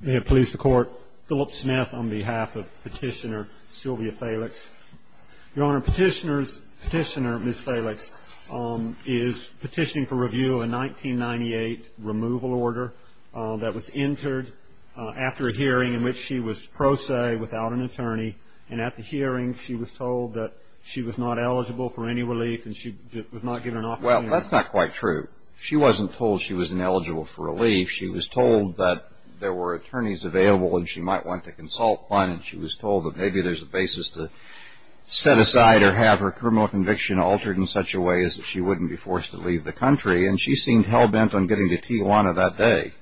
May it please the Court. Philip Smith on behalf of petitioner Sylvia Felix. Your Honor, petitioner Ms. Felix is petitioning for review of a 1998 removal order that was entered after a hearing in which she was pro se without an attorney, and at the hearing she was told that she was not eligible for any relief and she was not given an opportunity. Well, that's not quite true. She wasn't told she was ineligible for relief. She was told that there were attorneys available and she might want to consult one, and she was told that maybe there's a basis to set aside or have her criminal conviction altered in such a way as that she wouldn't be forced to leave the country, and she seemed hell-bent on getting to Tijuana that day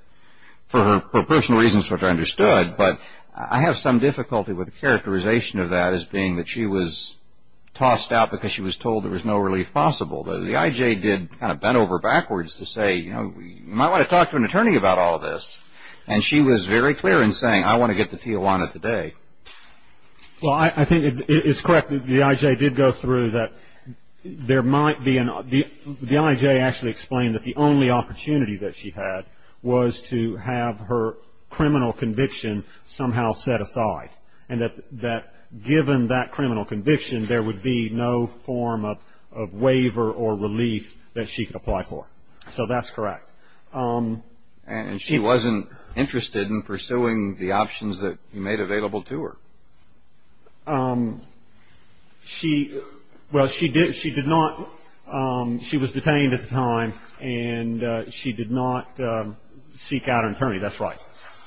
for her personal reasons, which I understood, but I have some difficulty with the characterization of that as being that she was tossed out because she was told there was no relief possible. The I.J. did kind of bend over backwards to say, you know, you might want to talk to an attorney about all this, and she was very clear in saying I want to get to Tijuana today. Well, I think it's correct that the I.J. did go through that there might be an – the I.J. actually explained that the only opportunity that she had was to have her criminal conviction somehow set aside and that given that criminal conviction, there would be no form of waiver or relief that she could apply for. So that's correct. And she wasn't interested in pursuing the options that you made available to her? She – well, she did – she did not – she was detained at the time, and she did not seek out an attorney. That's right.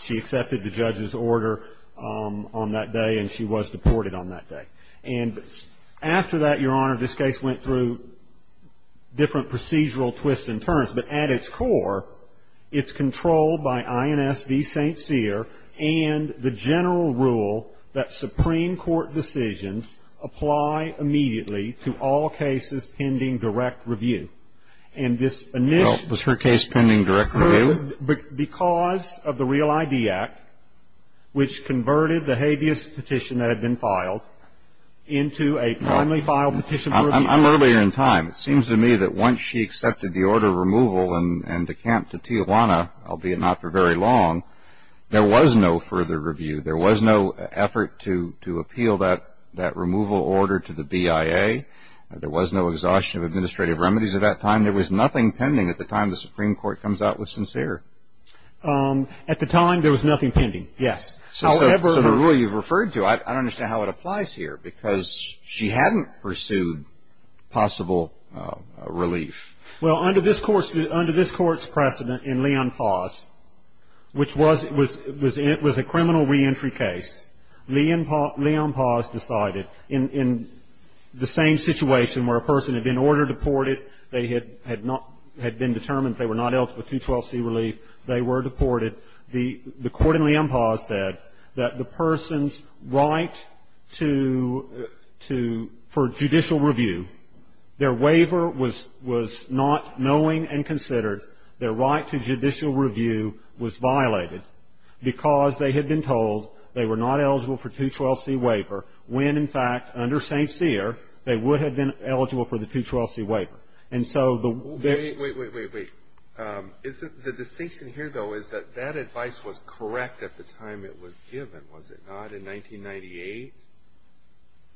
She accepted the judge's order on that day, and she was deported on that day. And after that, Your Honor, this case went through different procedural twists and turns. But at its core, it's controlled by INS v. St. Cyr and the general rule that Supreme Court decisions apply immediately to all cases pending direct review. And this – Well, was her case pending direct review? Because of the Real ID Act, which converted the habeas petition that had been filed into a timely filed petition for review. I'm earlier in time. It seems to me that once she accepted the order of removal and decamped to Tijuana, albeit not for very long, there was no further review. There was no effort to appeal that removal order to the BIA. There was no exhaustion of administrative remedies at that time. And there was nothing pending at the time the Supreme Court comes out with St. Cyr. At the time, there was nothing pending, yes. However – So the rule you've referred to, I don't understand how it applies here, because she hadn't pursued possible relief. Well, under this Court's precedent in Leon Paz, which was – it was a criminal reentry case, Leon Paz decided in the same situation where a person had been order-deported, they had not – had been determined they were not eligible for 212C relief, they were deported. The court in Leon Paz said that the person's right to – to – for judicial review, their waiver was not knowing and considered, their right to judicial review was violated because they had been told they were not eligible for 212C waiver when, in fact, under St. Cyr, they would have been eligible for the 212C waiver. And so the – Wait, wait, wait, wait, wait. Isn't – the distinction here, though, is that that advice was correct at the time it was given, was it not, in 1998?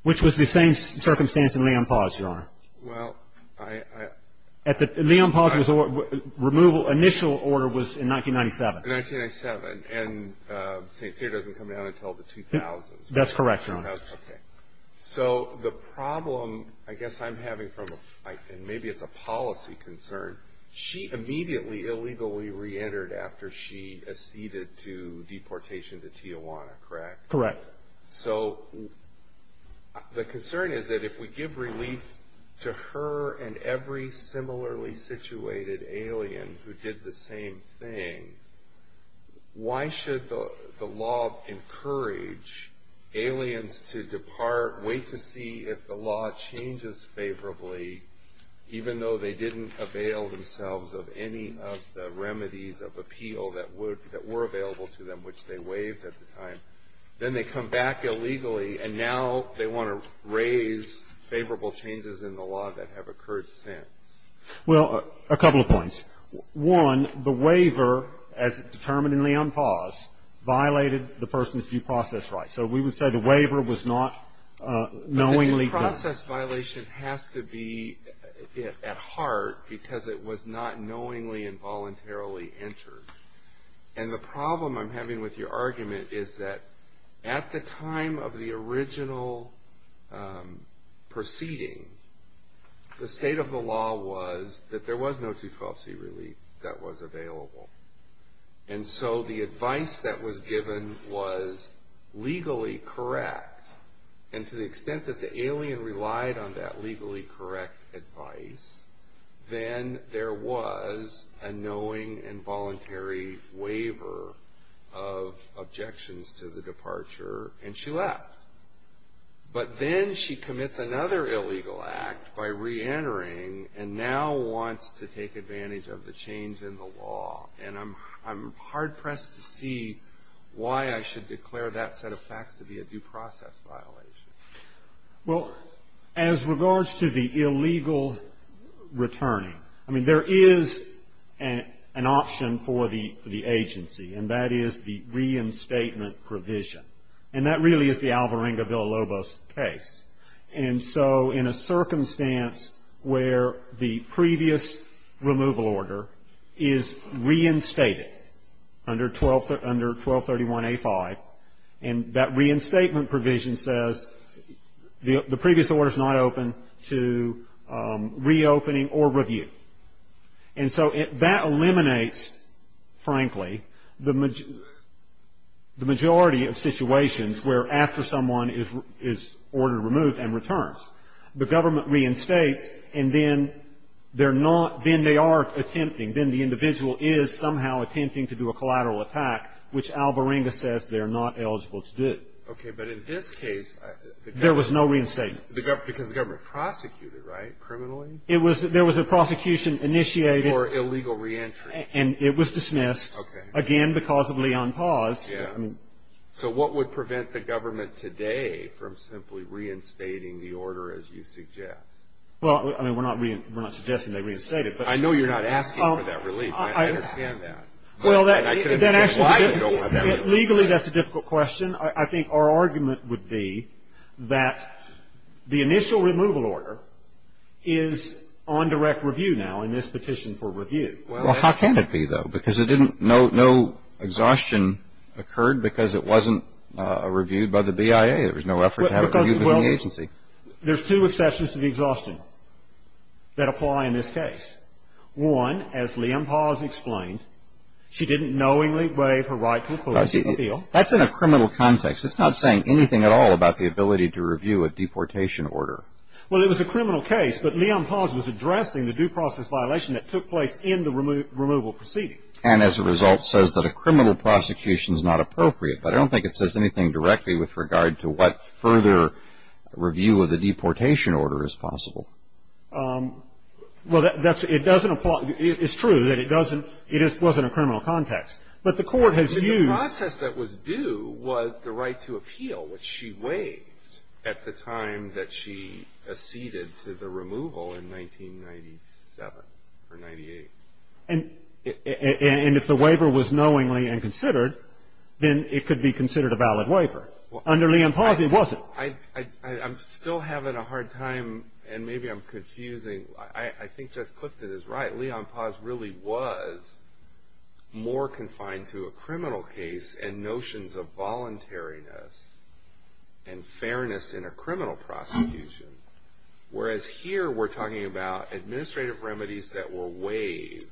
Which was the same circumstance in Leon Paz, Your Honor. Well, I – I – At the – Leon Paz was – removal – initial order was in 1997. In 1997, and St. Cyr doesn't come down until the 2000s. That's correct, Your Honor. Okay. So the problem I guess I'm having from – and maybe it's a policy concern – she immediately illegally reentered after she acceded to deportation to Tijuana, correct? Correct. So the concern is that if we give relief to her and every similarly situated alien who did the same thing, why should the law encourage aliens to depart, wait to see if the law changes favorably, even though they didn't avail themselves of any of the remedies of appeal that would – that were available to them, which they waived at the time. Then they come back illegally, and now they want to raise favorable changes in the law that have occurred since. Well, a couple of points. One, the waiver, as determined in Leon Paz, violated the person's due process rights. So we would say the waiver was not knowingly done. But the due process violation has to be at heart because it was not knowingly and voluntarily entered. And the problem I'm having with your argument is that at the time of the original proceeding, the state of the law was that there was no T-12C relief that was available. And so the advice that was given was legally correct. And to the extent that the alien relied on that legally correct advice, then there was a knowing and voluntary waiver of objections to the departure, and she left. But then she commits another illegal act by reentering and now wants to take advantage of the change in the law. And I'm hard-pressed to see why I should declare that set of facts to be a due process violation. Well, as regards to the illegal returning, I mean, there is an option for the agency, and that is the reinstatement provision. And that really is the Alvarenga-Villalobos case. And so in a circumstance where the previous removal order is reinstated under 1231A5, and that reinstatement provision says the previous order is not open to reopening or review. And so that eliminates, frankly, the majority of situations where after someone is ordered removed and returns, the government reinstates, and then they're not, then they are attempting, then the individual is somehow attempting to do a collateral attack, which Alvarenga says they're not eligible to do. Okay. But in this case the government. There was no reinstatement. Because the government prosecuted, right, criminally? There was a prosecution initiated. For illegal reentry. And it was dismissed. Okay. Again, because of Leon Paz. Yeah. So what would prevent the government today from simply reinstating the order as you suggest? Well, I mean, we're not suggesting they reinstate it. I know you're not asking for that relief. I understand that. Well, that actually, legally that's a difficult question. I think our argument would be that the initial removal order is on direct review now in this petition for review. Well, how can it be, though? Because it didn't, no exhaustion occurred because it wasn't reviewed by the BIA. There was no effort to have it reviewed by the agency. There's two exceptions to the exhaustion that apply in this case. One, as Leon Paz explained, she didn't knowingly waive her right to a policy appeal. That's in a criminal context. It's not saying anything at all about the ability to review a deportation order. Well, it was a criminal case. But Leon Paz was addressing the due process violation that took place in the removal proceeding. And as a result says that a criminal prosecution is not appropriate. But I don't think it says anything directly with regard to what further review of the deportation order is possible. Well, it doesn't apply. It's true that it doesn't, it wasn't a criminal context. But the court has used. But the process that was due was the right to appeal, which she waived at the time that she acceded to the removal in 1997 or 98. And if the waiver was knowingly and considered, then it could be considered a valid waiver. Under Leon Paz, it wasn't. I'm still having a hard time and maybe I'm confusing. I think Judge Clifton is right. Leon Paz really was more confined to a criminal case and notions of voluntariness and fairness in a criminal prosecution. Whereas here we're talking about administrative remedies that were waived.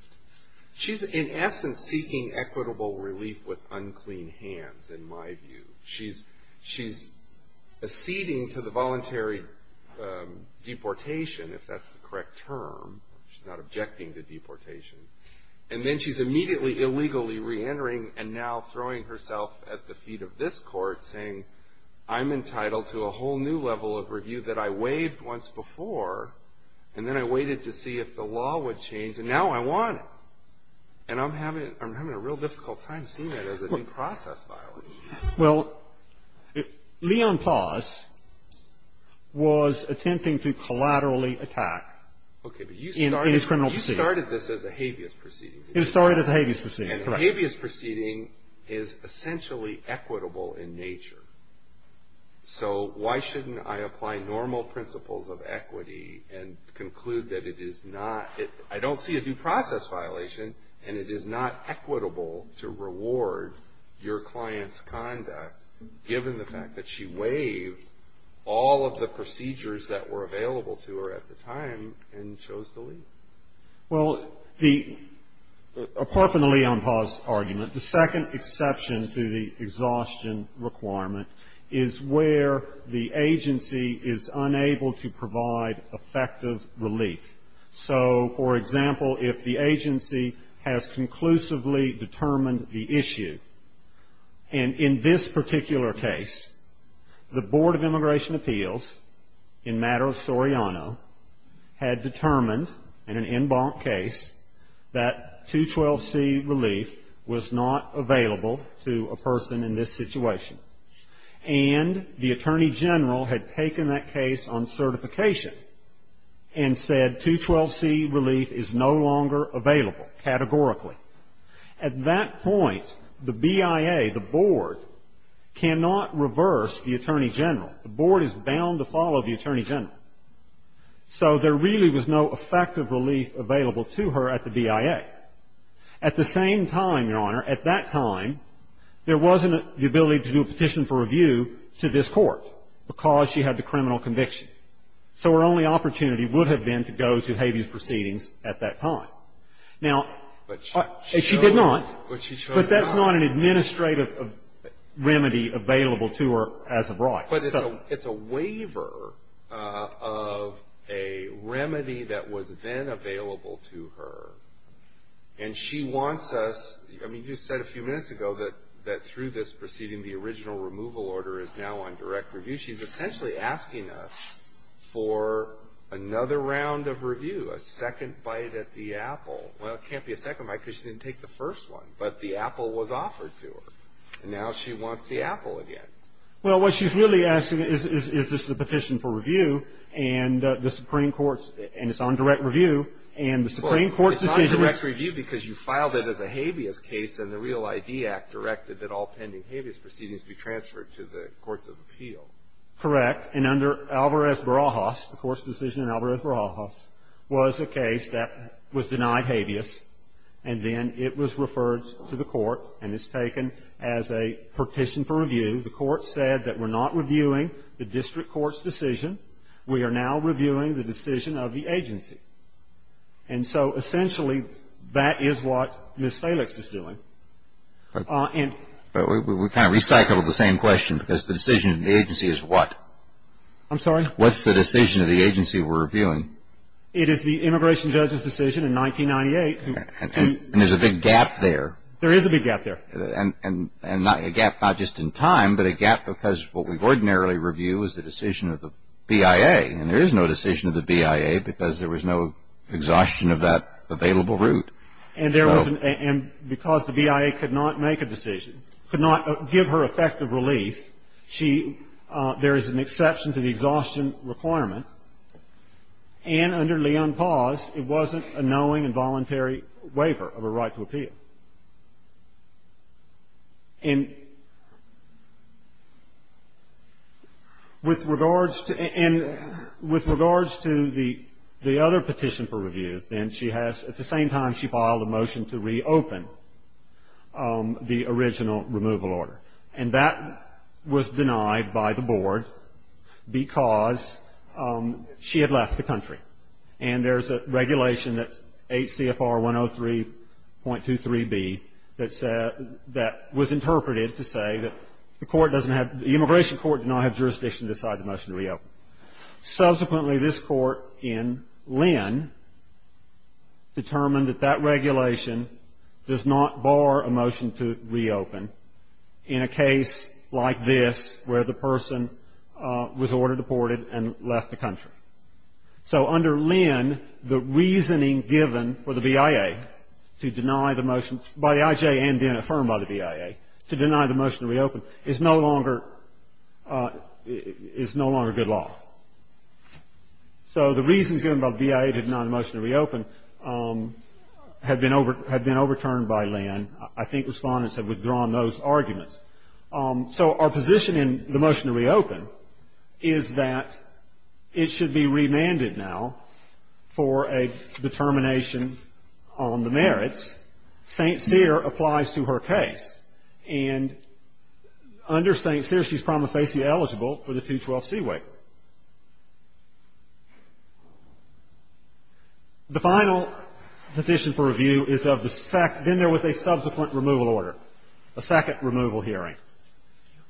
She's in essence seeking equitable relief with unclean hands, in my view. She's acceding to the voluntary deportation, if that's the correct term. She's not objecting to deportation. And then she's immediately illegally reentering and now throwing herself at the feet of this court saying, I'm entitled to a whole new level of review that I waived once before. And then I waited to see if the law would change. And now I want it. And I'm having a real difficult time seeing that as an in-process violation. Well, Leon Paz was attempting to collaterally attack in his criminal proceeding. Okay. But you started this as a habeas proceeding. It started as a habeas proceeding. Correct. A habeas proceeding is essentially equitable in nature. So why shouldn't I apply normal principles of equity and conclude that it is not? I don't see a due process violation, and it is not equitable to reward your client's conduct, given the fact that she waived all of the procedures that were available to her at the time and chose to leave. Well, the, apart from the Leon Paz argument, the second exception to the exhaustion requirement is where the agency is unable to provide effective relief. So, for example, if the agency has conclusively determined the issue, and in this particular case, the Board of Immigration Appeals, in matter of Soriano, had determined, in an en banc case, that 212C relief was not available to a person in this situation. And the Attorney General had taken that case on certification and said, 212C relief is no longer available, categorically. At that point, the BIA, the Board, cannot reverse the Attorney General. The Board is bound to follow the Attorney General. So there really was no effective relief available to her at the BIA. At the same time, Your Honor, at that time, there wasn't the ability to do a petition for review to this Court, because she had the criminal conviction. So her only opportunity would have been to go to habeas proceedings at that time. Now, she did not. But she chose not. But that's not an administrative remedy available to her as of right. But it's a waiver of a remedy that was then available to her. And she wants us, I mean, you said a few minutes ago that through this proceeding, the original removal order is now on direct review. She's essentially asking us for another round of review, a second bite at the apple. Well, it can't be a second bite, because she didn't take the first one. But the apple was offered to her. And now she wants the apple again. Well, what she's really asking is, is this a petition for review, and the Supreme Court's, and it's on direct review. And the Supreme Court's decision is. Well, it's on direct review because you filed it as a habeas case, and the REAL-ID Act directed that all pending habeas proceedings be transferred to the courts of appeal. Correct. And under Alvarez-Barajas, the Court's decision in Alvarez-Barajas was a case that was denied habeas, and then it was referred to the Court, and it's taken as a petition for review. The Court said that we're not reviewing the district court's decision. We are now reviewing the decision of the agency. And so essentially, that is what Ms. Felix is doing. But we kind of recycled the same question, because the decision of the agency is what? I'm sorry? What's the decision of the agency we're reviewing? It is the immigration judge's decision in 1998. And there's a big gap there. There is a big gap there. And a gap not just in time, but a gap because what we ordinarily review is the decision of the BIA, and there is no decision of the BIA because there was no exhaustion of that available route. And there was an – and because the BIA could not make a decision, could not give her effective relief, she – there is an exception to the exhaustion requirement. And under Leon Paz, it wasn't a knowing and voluntary waiver of a right to appeal. And with regards to – and with regards to the other petition for review, then she has – at the same time, she filed a motion to reopen the original removal order. And that was denied by the board because she had left the country. And there's a regulation that's 8 CFR 103.23B that said – that was interpreted to say that the court doesn't have – the immigration court did not have jurisdiction to decide the motion to reopen. Subsequently, this court in Lynn determined that that regulation does not bar a motion to reopen in a case like this where the person was ordered deported and left the country. So under Lynn, the reasoning given for the BIA to deny the motion by the IJ and then So the reasons given by the BIA to deny the motion to reopen have been overturned by Lynn. I think respondents have withdrawn those arguments. So our position in the motion to reopen is that it should be remanded now for a determination on the merits. St. Cyr applies to her case. And under St. Cyr, she's promised to be eligible for the 212C waiver. The final position for review is of the – been there with a subsequent removal order, a second removal hearing.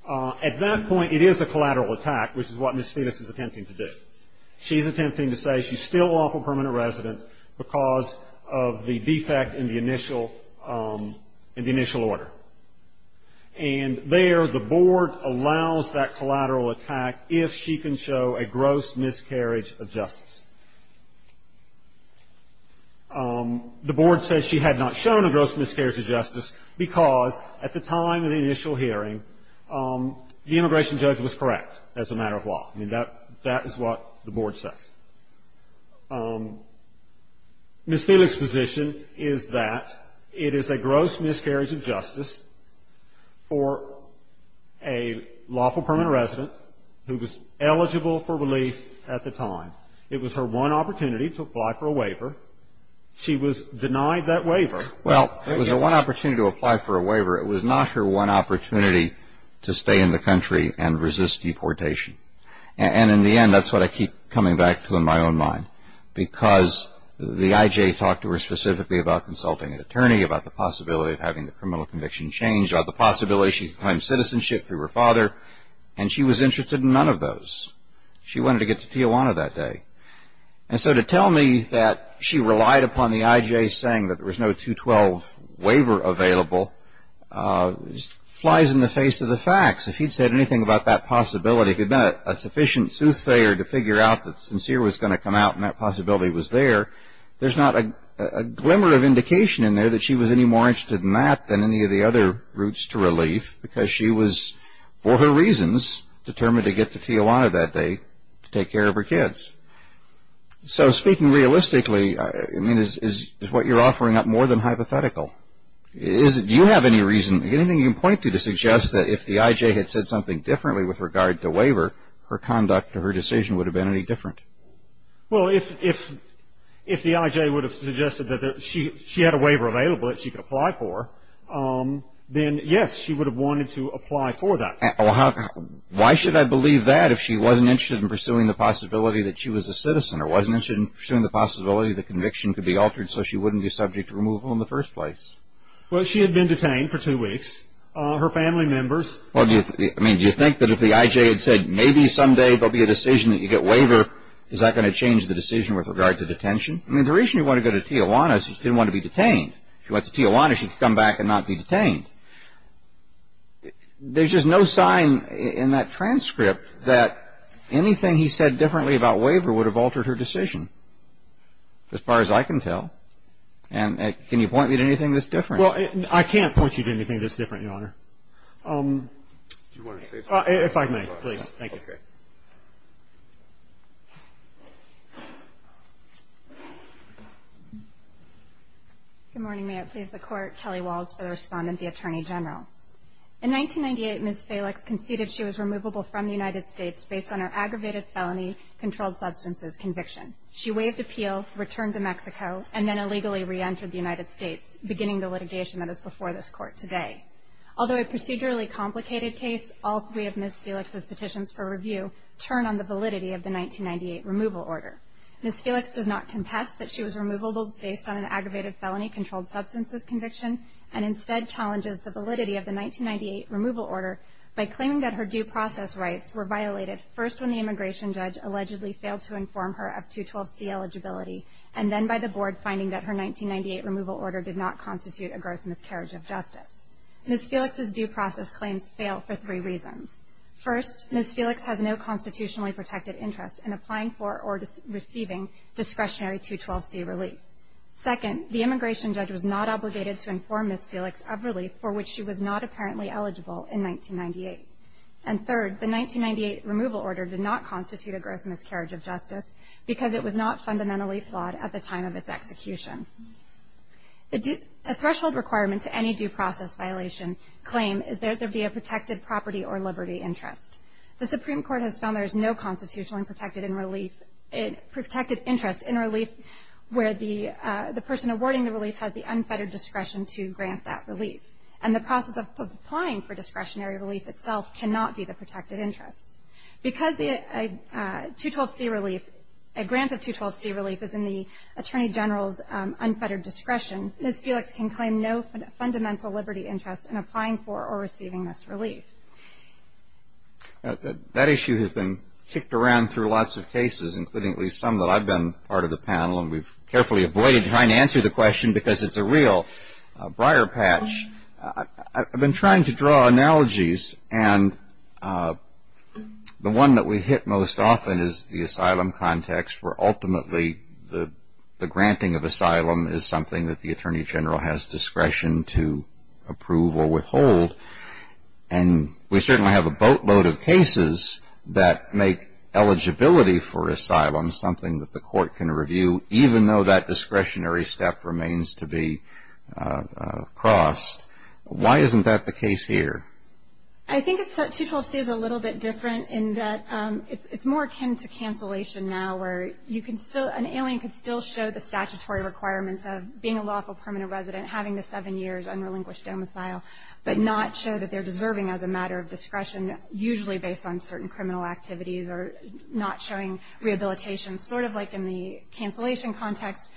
At that point, it is a collateral attack, which is what Ms. Phoenix is attempting to do. She's attempting to say she's still lawful permanent resident because of the defect in the initial order. And there, the board allows that collateral attack if she can show a gross miscarriage of justice. The board says she had not shown a gross miscarriage of justice because at the time of the initial hearing, the immigration judge was correct as a matter of law. I mean, that is what the board says. Ms. Phoenix's position is that it is a gross miscarriage of justice for a lawful permanent resident who was eligible for relief at the time. It was her one opportunity to apply for a waiver. She was denied that waiver. Well, it was her one opportunity to apply for a waiver. It was not her one opportunity to stay in the country and resist deportation. And in the end, that's what I keep coming back to in my own mind, because the I.J. talked to her specifically about consulting an attorney, about the possibility of having the criminal conviction changed, about the possibility she could claim citizenship through her father. And she was interested in none of those. She wanted to get to Tijuana that day. And so to tell me that she relied upon the I.J. saying that there was no 212 waiver available flies in the face of the facts. If he'd said anything about that possibility, if he'd been a sufficient soothsayer to figure out that sincere was going to come out and that possibility was there, there's not a glimmer of indication in there that she was any more interested in that than any of the other routes to relief, because she was, for her reasons, determined to get to Tijuana that day to take care of her kids. So speaking realistically, I mean, is what you're offering up more than hypothetical? Do you have any reason, anything you can point to to suggest that if the I.J. had said something differently with regard to waiver, her conduct or her decision would have been any different? Well, if the I.J. would have suggested that she had a waiver available that she could apply for, then, yes, she would have wanted to apply for that. Why should I believe that if she wasn't interested in pursuing the possibility that she was a citizen or wasn't interested in pursuing the possibility that conviction could be altered so she wouldn't be subject to removal in the first place? Well, she had been detained for two weeks. Her family members. I mean, do you think that if the I.J. had said maybe someday there'll be a decision that you get waiver, is that going to change the decision with regard to detention? I mean, the reason you want to go to Tijuana is she didn't want to be detained. There's just no sign in that transcript that anything he said differently about waiver would have altered her decision, as far as I can tell. And can you point me to anything that's different? Well, I can't point you to anything that's different, Your Honor. Do you want to say something? If I may, please. Thank you. Okay. Good morning. May it please the Court. Kelly Walls for the Respondent, the Attorney General. In 1998, Ms. Felix conceded she was removable from the United States based on her aggravated felony controlled substances conviction. She waived appeal, returned to Mexico, and then illegally reentered the United States, beginning the litigation that is before this Court today. Although a procedurally complicated case, all three of Ms. Felix's petitions for review turn on the validity of the 1998 removal order. Ms. Felix does not contest that she was removable based on an aggravated felony controlled substances conviction and instead challenges the validity of the 1998 removal order by claiming that her due process rights were violated first when the immigration judge allegedly failed to inform her of 212C eligibility, and then by the Board finding that her 1998 removal order did not constitute a gross miscarriage of justice. Ms. Felix's due process claims fail for three reasons. First, Ms. Felix has no constitutionally protected interest in applying for or receiving discretionary 212C relief. Second, the immigration judge was not obligated to inform Ms. Felix of relief for which she was not apparently eligible in 1998. And third, the 1998 removal order did not constitute a gross miscarriage of justice because it was not fundamentally flawed at the time of its execution. A threshold requirement to any due process violation claim is that there be a protected property or liberty interest. The Supreme Court has found there is no constitutionally protected interest in relief where the person awarding the relief has the unfettered discretion to grant that relief, and the process of applying for discretionary relief itself cannot be the protected interest. Because a grant of 212C relief is in the Attorney General's unfettered discretion, Ms. Felix can claim no fundamental liberty interest in applying for or receiving this relief. That issue has been kicked around through lots of cases, including at least some that I've been part of the panel, and we've carefully avoided trying to answer the question because it's a real briar patch. I've been trying to draw analogies, and the one that we hit most often is the asylum context, where ultimately the granting of asylum is something that the Attorney General has discretion to approve or withhold. And we certainly have a boatload of cases that make eligibility for asylum something that the court can review, even though that discretionary step remains to be crossed. Why isn't that the case here? I think 212C is a little bit different in that it's more akin to cancellation now, where an alien could still show the statutory requirements of being a lawful permanent resident, having the seven years unrelinquished domicile, but not show that they're deserving as a matter of discretion, usually based on certain criminal activities, or not showing rehabilitation, sort of like in the cancellation context,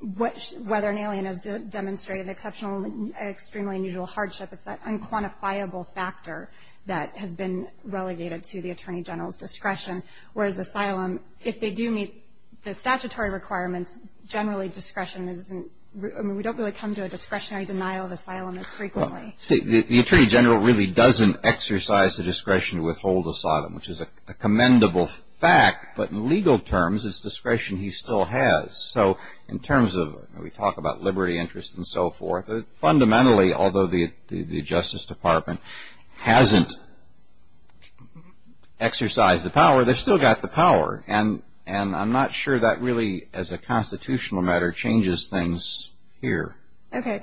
whether an alien has demonstrated exceptional, extremely unusual hardship. It's that unquantifiable factor that has been relegated to the Attorney General's discretion, whereas asylum, if they do meet the statutory requirements, generally discretion isn't, I mean we don't really come to a discretionary denial of asylum as frequently. See, the Attorney General really doesn't exercise the discretion to withhold asylum, which is a commendable fact, but in legal terms, it's discretion he still has. So in terms of, we talk about liberty, interest, and so forth, fundamentally, although the Justice Department hasn't exercised the power, they've still got the power. And I'm not sure that really, as a constitutional matter, changes things here. Okay.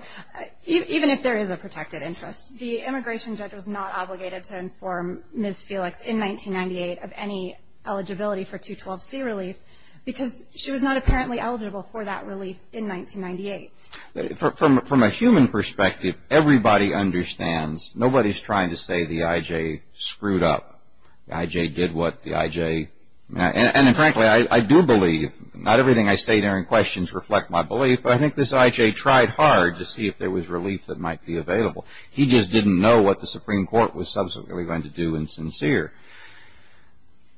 Even if there is a protected interest, the immigration judge was not obligated to inform Ms. Felix in 1998 of any eligibility for 212C relief, because she was not apparently eligible for that relief in 1998. From a human perspective, everybody understands, nobody's trying to say the I.J. screwed up. The I.J. did what the I.J. And frankly, I do believe, not everything I say during questions reflect my belief, but I think this I.J. tried hard to see if there was relief that might be available. He just didn't know what the Supreme Court was subsequently going to do in sincere.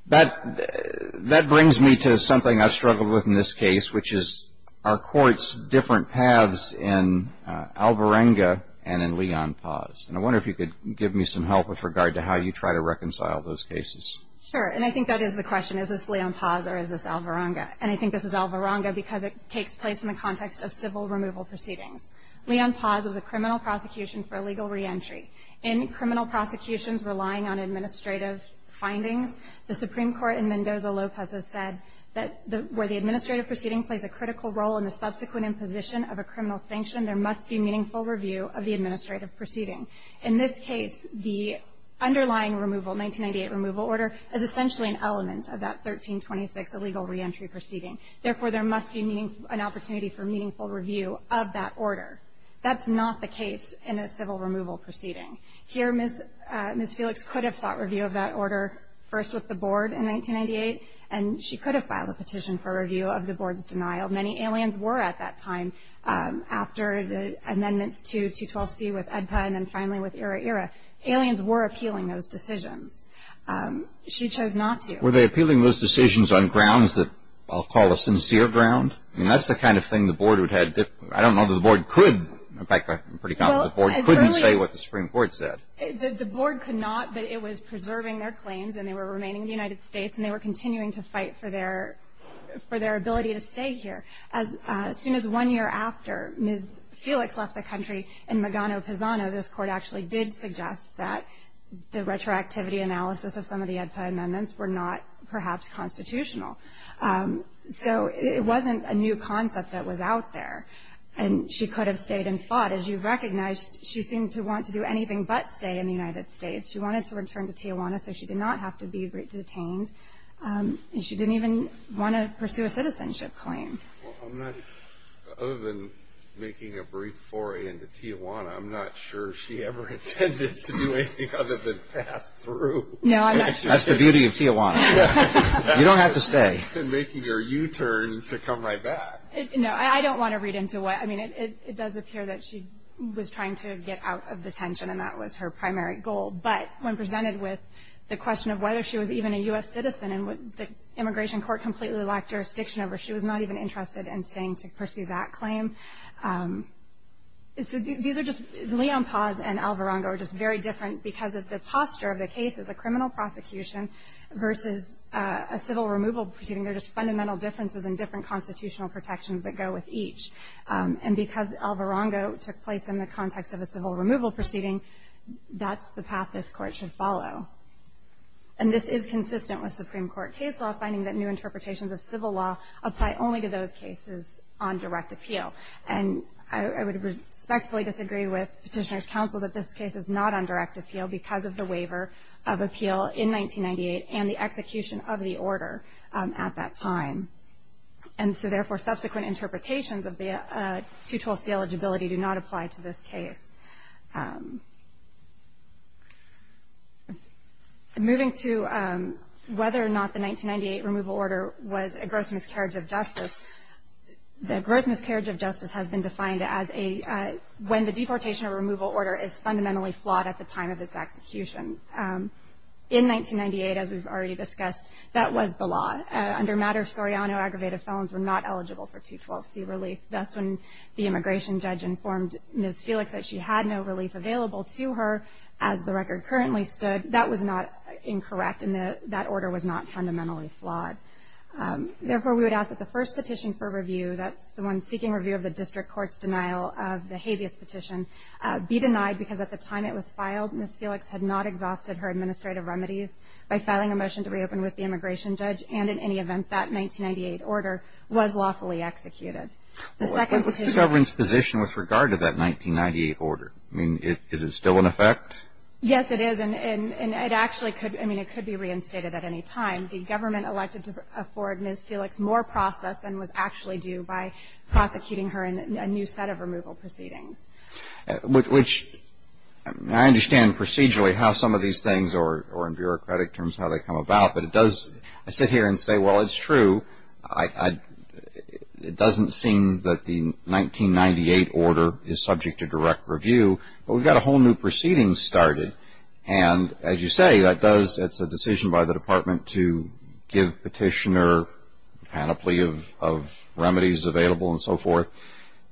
That brings me to something I've struggled with in this case, which is are courts different paths in Alvarenga and in Leon Paz? And I wonder if you could give me some help with regard to how you try to reconcile those cases. Sure. And I think that is the question, is this Leon Paz or is this Alvarenga? And I think this is Alvarenga because it takes place in the context of civil removal proceedings. Leon Paz was a criminal prosecution for illegal reentry. In criminal prosecutions relying on administrative findings, the Supreme Court in Mendoza-Lopez has said that where the administrative proceeding plays a critical role in the subsequent imposition of a criminal sanction, there must be meaningful review of the administrative proceeding. In this case, the underlying removal, 1998 removal order, is essentially an element of that 1326 illegal reentry proceeding. Therefore, there must be an opportunity for meaningful review of that order. That's not the case in a civil removal proceeding. Here, Ms. Felix could have sought review of that order first with the board in 1998, and she could have filed a petition for review of the board's denial. Many aliens were at that time after the amendments to 212C with EDPA and then finally with ERA-ERA. Aliens were appealing those decisions. She chose not to. Were they appealing those decisions on grounds that I'll call a sincere ground? I mean, that's the kind of thing the board would have. I don't know that the board could. In fact, I'm pretty confident the board couldn't say what the Supreme Court said. The board could not, but it was preserving their claims, and they were remaining in the United States, and they were continuing to fight for their ability to stay here. As soon as one year after Ms. Felix left the country in Magano-Pizano, this Court actually did suggest that the retroactivity analysis of some of the EDPA amendments were not perhaps constitutional. So it wasn't a new concept that was out there, and she could have stayed and fought. As you've recognized, she seemed to want to do anything but stay in the United States. She wanted to return to Tijuana, so she did not have to be detained, and she didn't even want to pursue a citizenship claim. Well, other than making a brief foray into Tijuana, I'm not sure she ever intended to do anything other than pass through. No, I'm not sure. That's the beauty of Tijuana. You don't have to stay. She's been making her U-turn to come right back. No, I don't want to read into what. I mean, it does appear that she was trying to get out of detention, and that was her primary goal. But when presented with the question of whether she was even a U.S. citizen and would the immigration court completely lack jurisdiction over her, she was not even interested in staying to pursue that claim. So these are just Leon Paz and Alvarongo are just very different because of the posture of the case as a criminal prosecution versus a civil removal proceeding. They're just fundamental differences in different constitutional protections that go with each. And because Alvarongo took place in the context of a civil removal proceeding, that's the path this Court should follow. And this is consistent with Supreme Court case law, finding that new interpretations of civil law apply only to those cases on direct appeal. And I would respectfully disagree with Petitioner's counsel that this case is not on direct appeal because of the waiver of appeal in 1998 and the execution of the order at that time. And so, therefore, subsequent interpretations of the 212C eligibility do not apply to this case. Moving to whether or not the 1998 removal order was a gross miscarriage of justice, the gross miscarriage of justice has been defined as when the deportation or removal order is fundamentally flawed at the time of its execution. In 1998, as we've already discussed, that was the law. Under Matters Soriano, aggravated felons were not eligible for 212C relief. That's when the immigration judge informed Ms. Felix that she had no relief available to her, as the record currently stood. That was not incorrect, and that order was not fundamentally flawed. Therefore, we would ask that the first petition for review, that's the one seeking review of the district court's denial of the habeas petition, be denied because at the time it was filed, and in any event, that 1998 order was lawfully executed. The second petition. But what's the government's position with regard to that 1998 order? I mean, is it still in effect? Yes, it is, and it actually could. I mean, it could be reinstated at any time. The government elected to afford Ms. Felix more process than was actually due by prosecuting her in a new set of removal proceedings. Which I understand procedurally how some of these things, or in bureaucratic terms, how they come about, but it does, I sit here and say, well, it's true. It doesn't seem that the 1998 order is subject to direct review, but we've got a whole new proceeding started, and as you say, that does, it's a decision by the department to give petitioner a panoply of remedies available and so forth.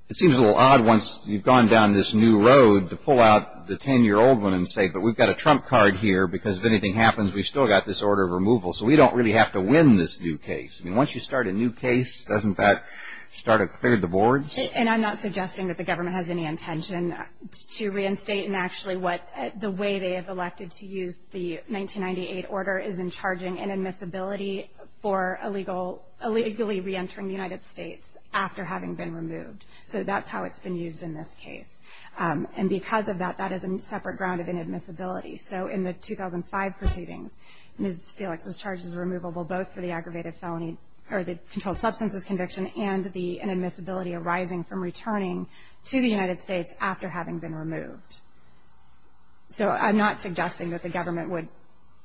It seems a little odd once you've gone down this new road to pull out the 10-year-old one and say, but we've got a trump card here because if anything happens, we've still got this order of removal, so we don't really have to win this new case. I mean, once you start a new case, doesn't that start to clear the boards? And I'm not suggesting that the government has any intention to reinstate, and actually the way they have elected to use the 1998 order is in charging inadmissibility for illegally reentering the United States after having been removed. So that's how it's been used in this case. And because of that, that is a separate ground of inadmissibility. So in the 2005 proceedings, Ms. Felix was charged as removable both for the aggravated felony or the controlled substances conviction and the inadmissibility arising from returning to the United States after having been removed. So I'm not suggesting that the government would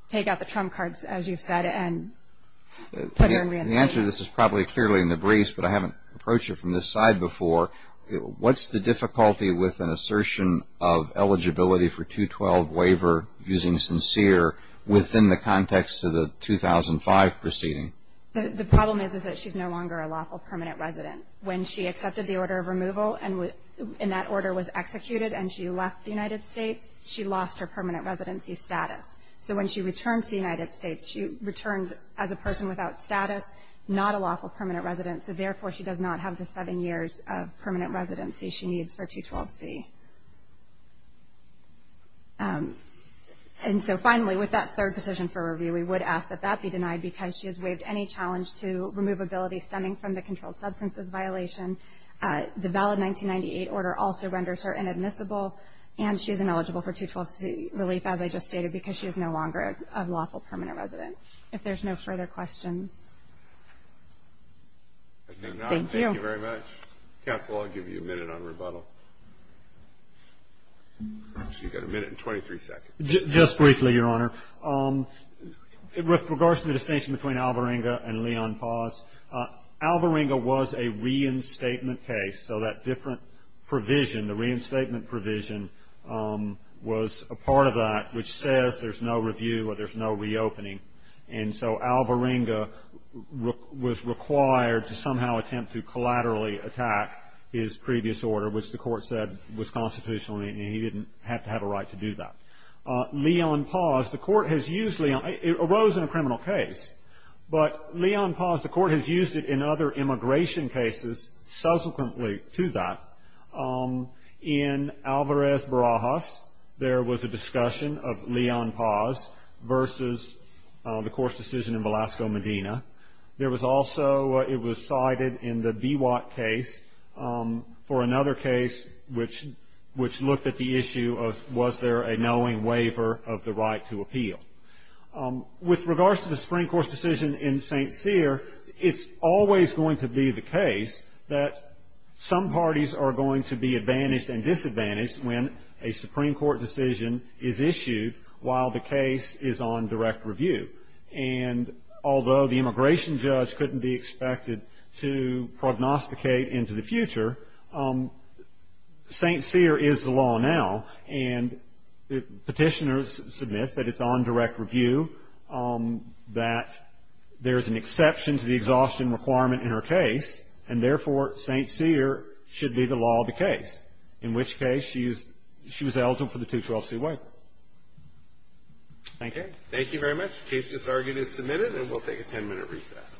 take out the trump cards, as you've said, and put her in reinstatement. The answer to this is probably clearly in the briefs, but I haven't approached you from this side before. What's the difficulty with an assertion of eligibility for 212 waiver using SINCERE within the context of the 2005 proceeding? The problem is that she's no longer a lawful permanent resident. When she accepted the order of removal and that order was executed and she left the United States, she lost her permanent residency status. So when she returned to the United States, she returned as a person without status, not a lawful permanent resident, so therefore she does not have the seven years of permanent residency she needs for 212C. And so finally, with that third petition for review, we would ask that that be denied because she has waived any challenge to removability stemming from the controlled substances violation. The valid 1998 order also renders her inadmissible, and she is ineligible for 212C relief, as I just stated, because she is no longer a lawful permanent resident. If there's no further questions. Thank you. Thank you very much. Counsel, I'll give you a minute on rebuttal. You've got a minute and 23 seconds. Just briefly, Your Honor. With regards to the distinction between Alvarenga and Leon Paz, Alvarenga was a reinstatement case, so that different provision, the reinstatement provision, was a part of that, which says there's no review or there's no reopening. And so Alvarenga was required to somehow attempt to collaterally attack his previous order, which the court said was constitutional, and he didn't have to have a right to do that. Leon Paz, the court has used Leon Paz. It arose in a criminal case. But Leon Paz, the court has used it in other immigration cases subsequently to that. In Alvarez Barajas, there was a discussion of Leon Paz versus the court's decision in Velasco, Medina. There was also, it was cited in the Biwak case for another case which looked at the issue of was there a knowing waiver of the right to appeal. With regards to the Supreme Court's decision in St. Cyr, it's always going to be the case that some parties are going to be advantaged and disadvantaged when a Supreme Court decision is issued while the case is on direct review. And although the immigration judge couldn't be expected to prognosticate into the future, St. Cyr is the law now, and petitioners submit that it's on direct review, that there's an exception to the exhaustion requirement in her case, and therefore St. Cyr should be the law of the case, in which case she was eligible for the 212c waiver. Thank you. Thank you very much. The case is argued and submitted, and we'll take a 10-minute recess.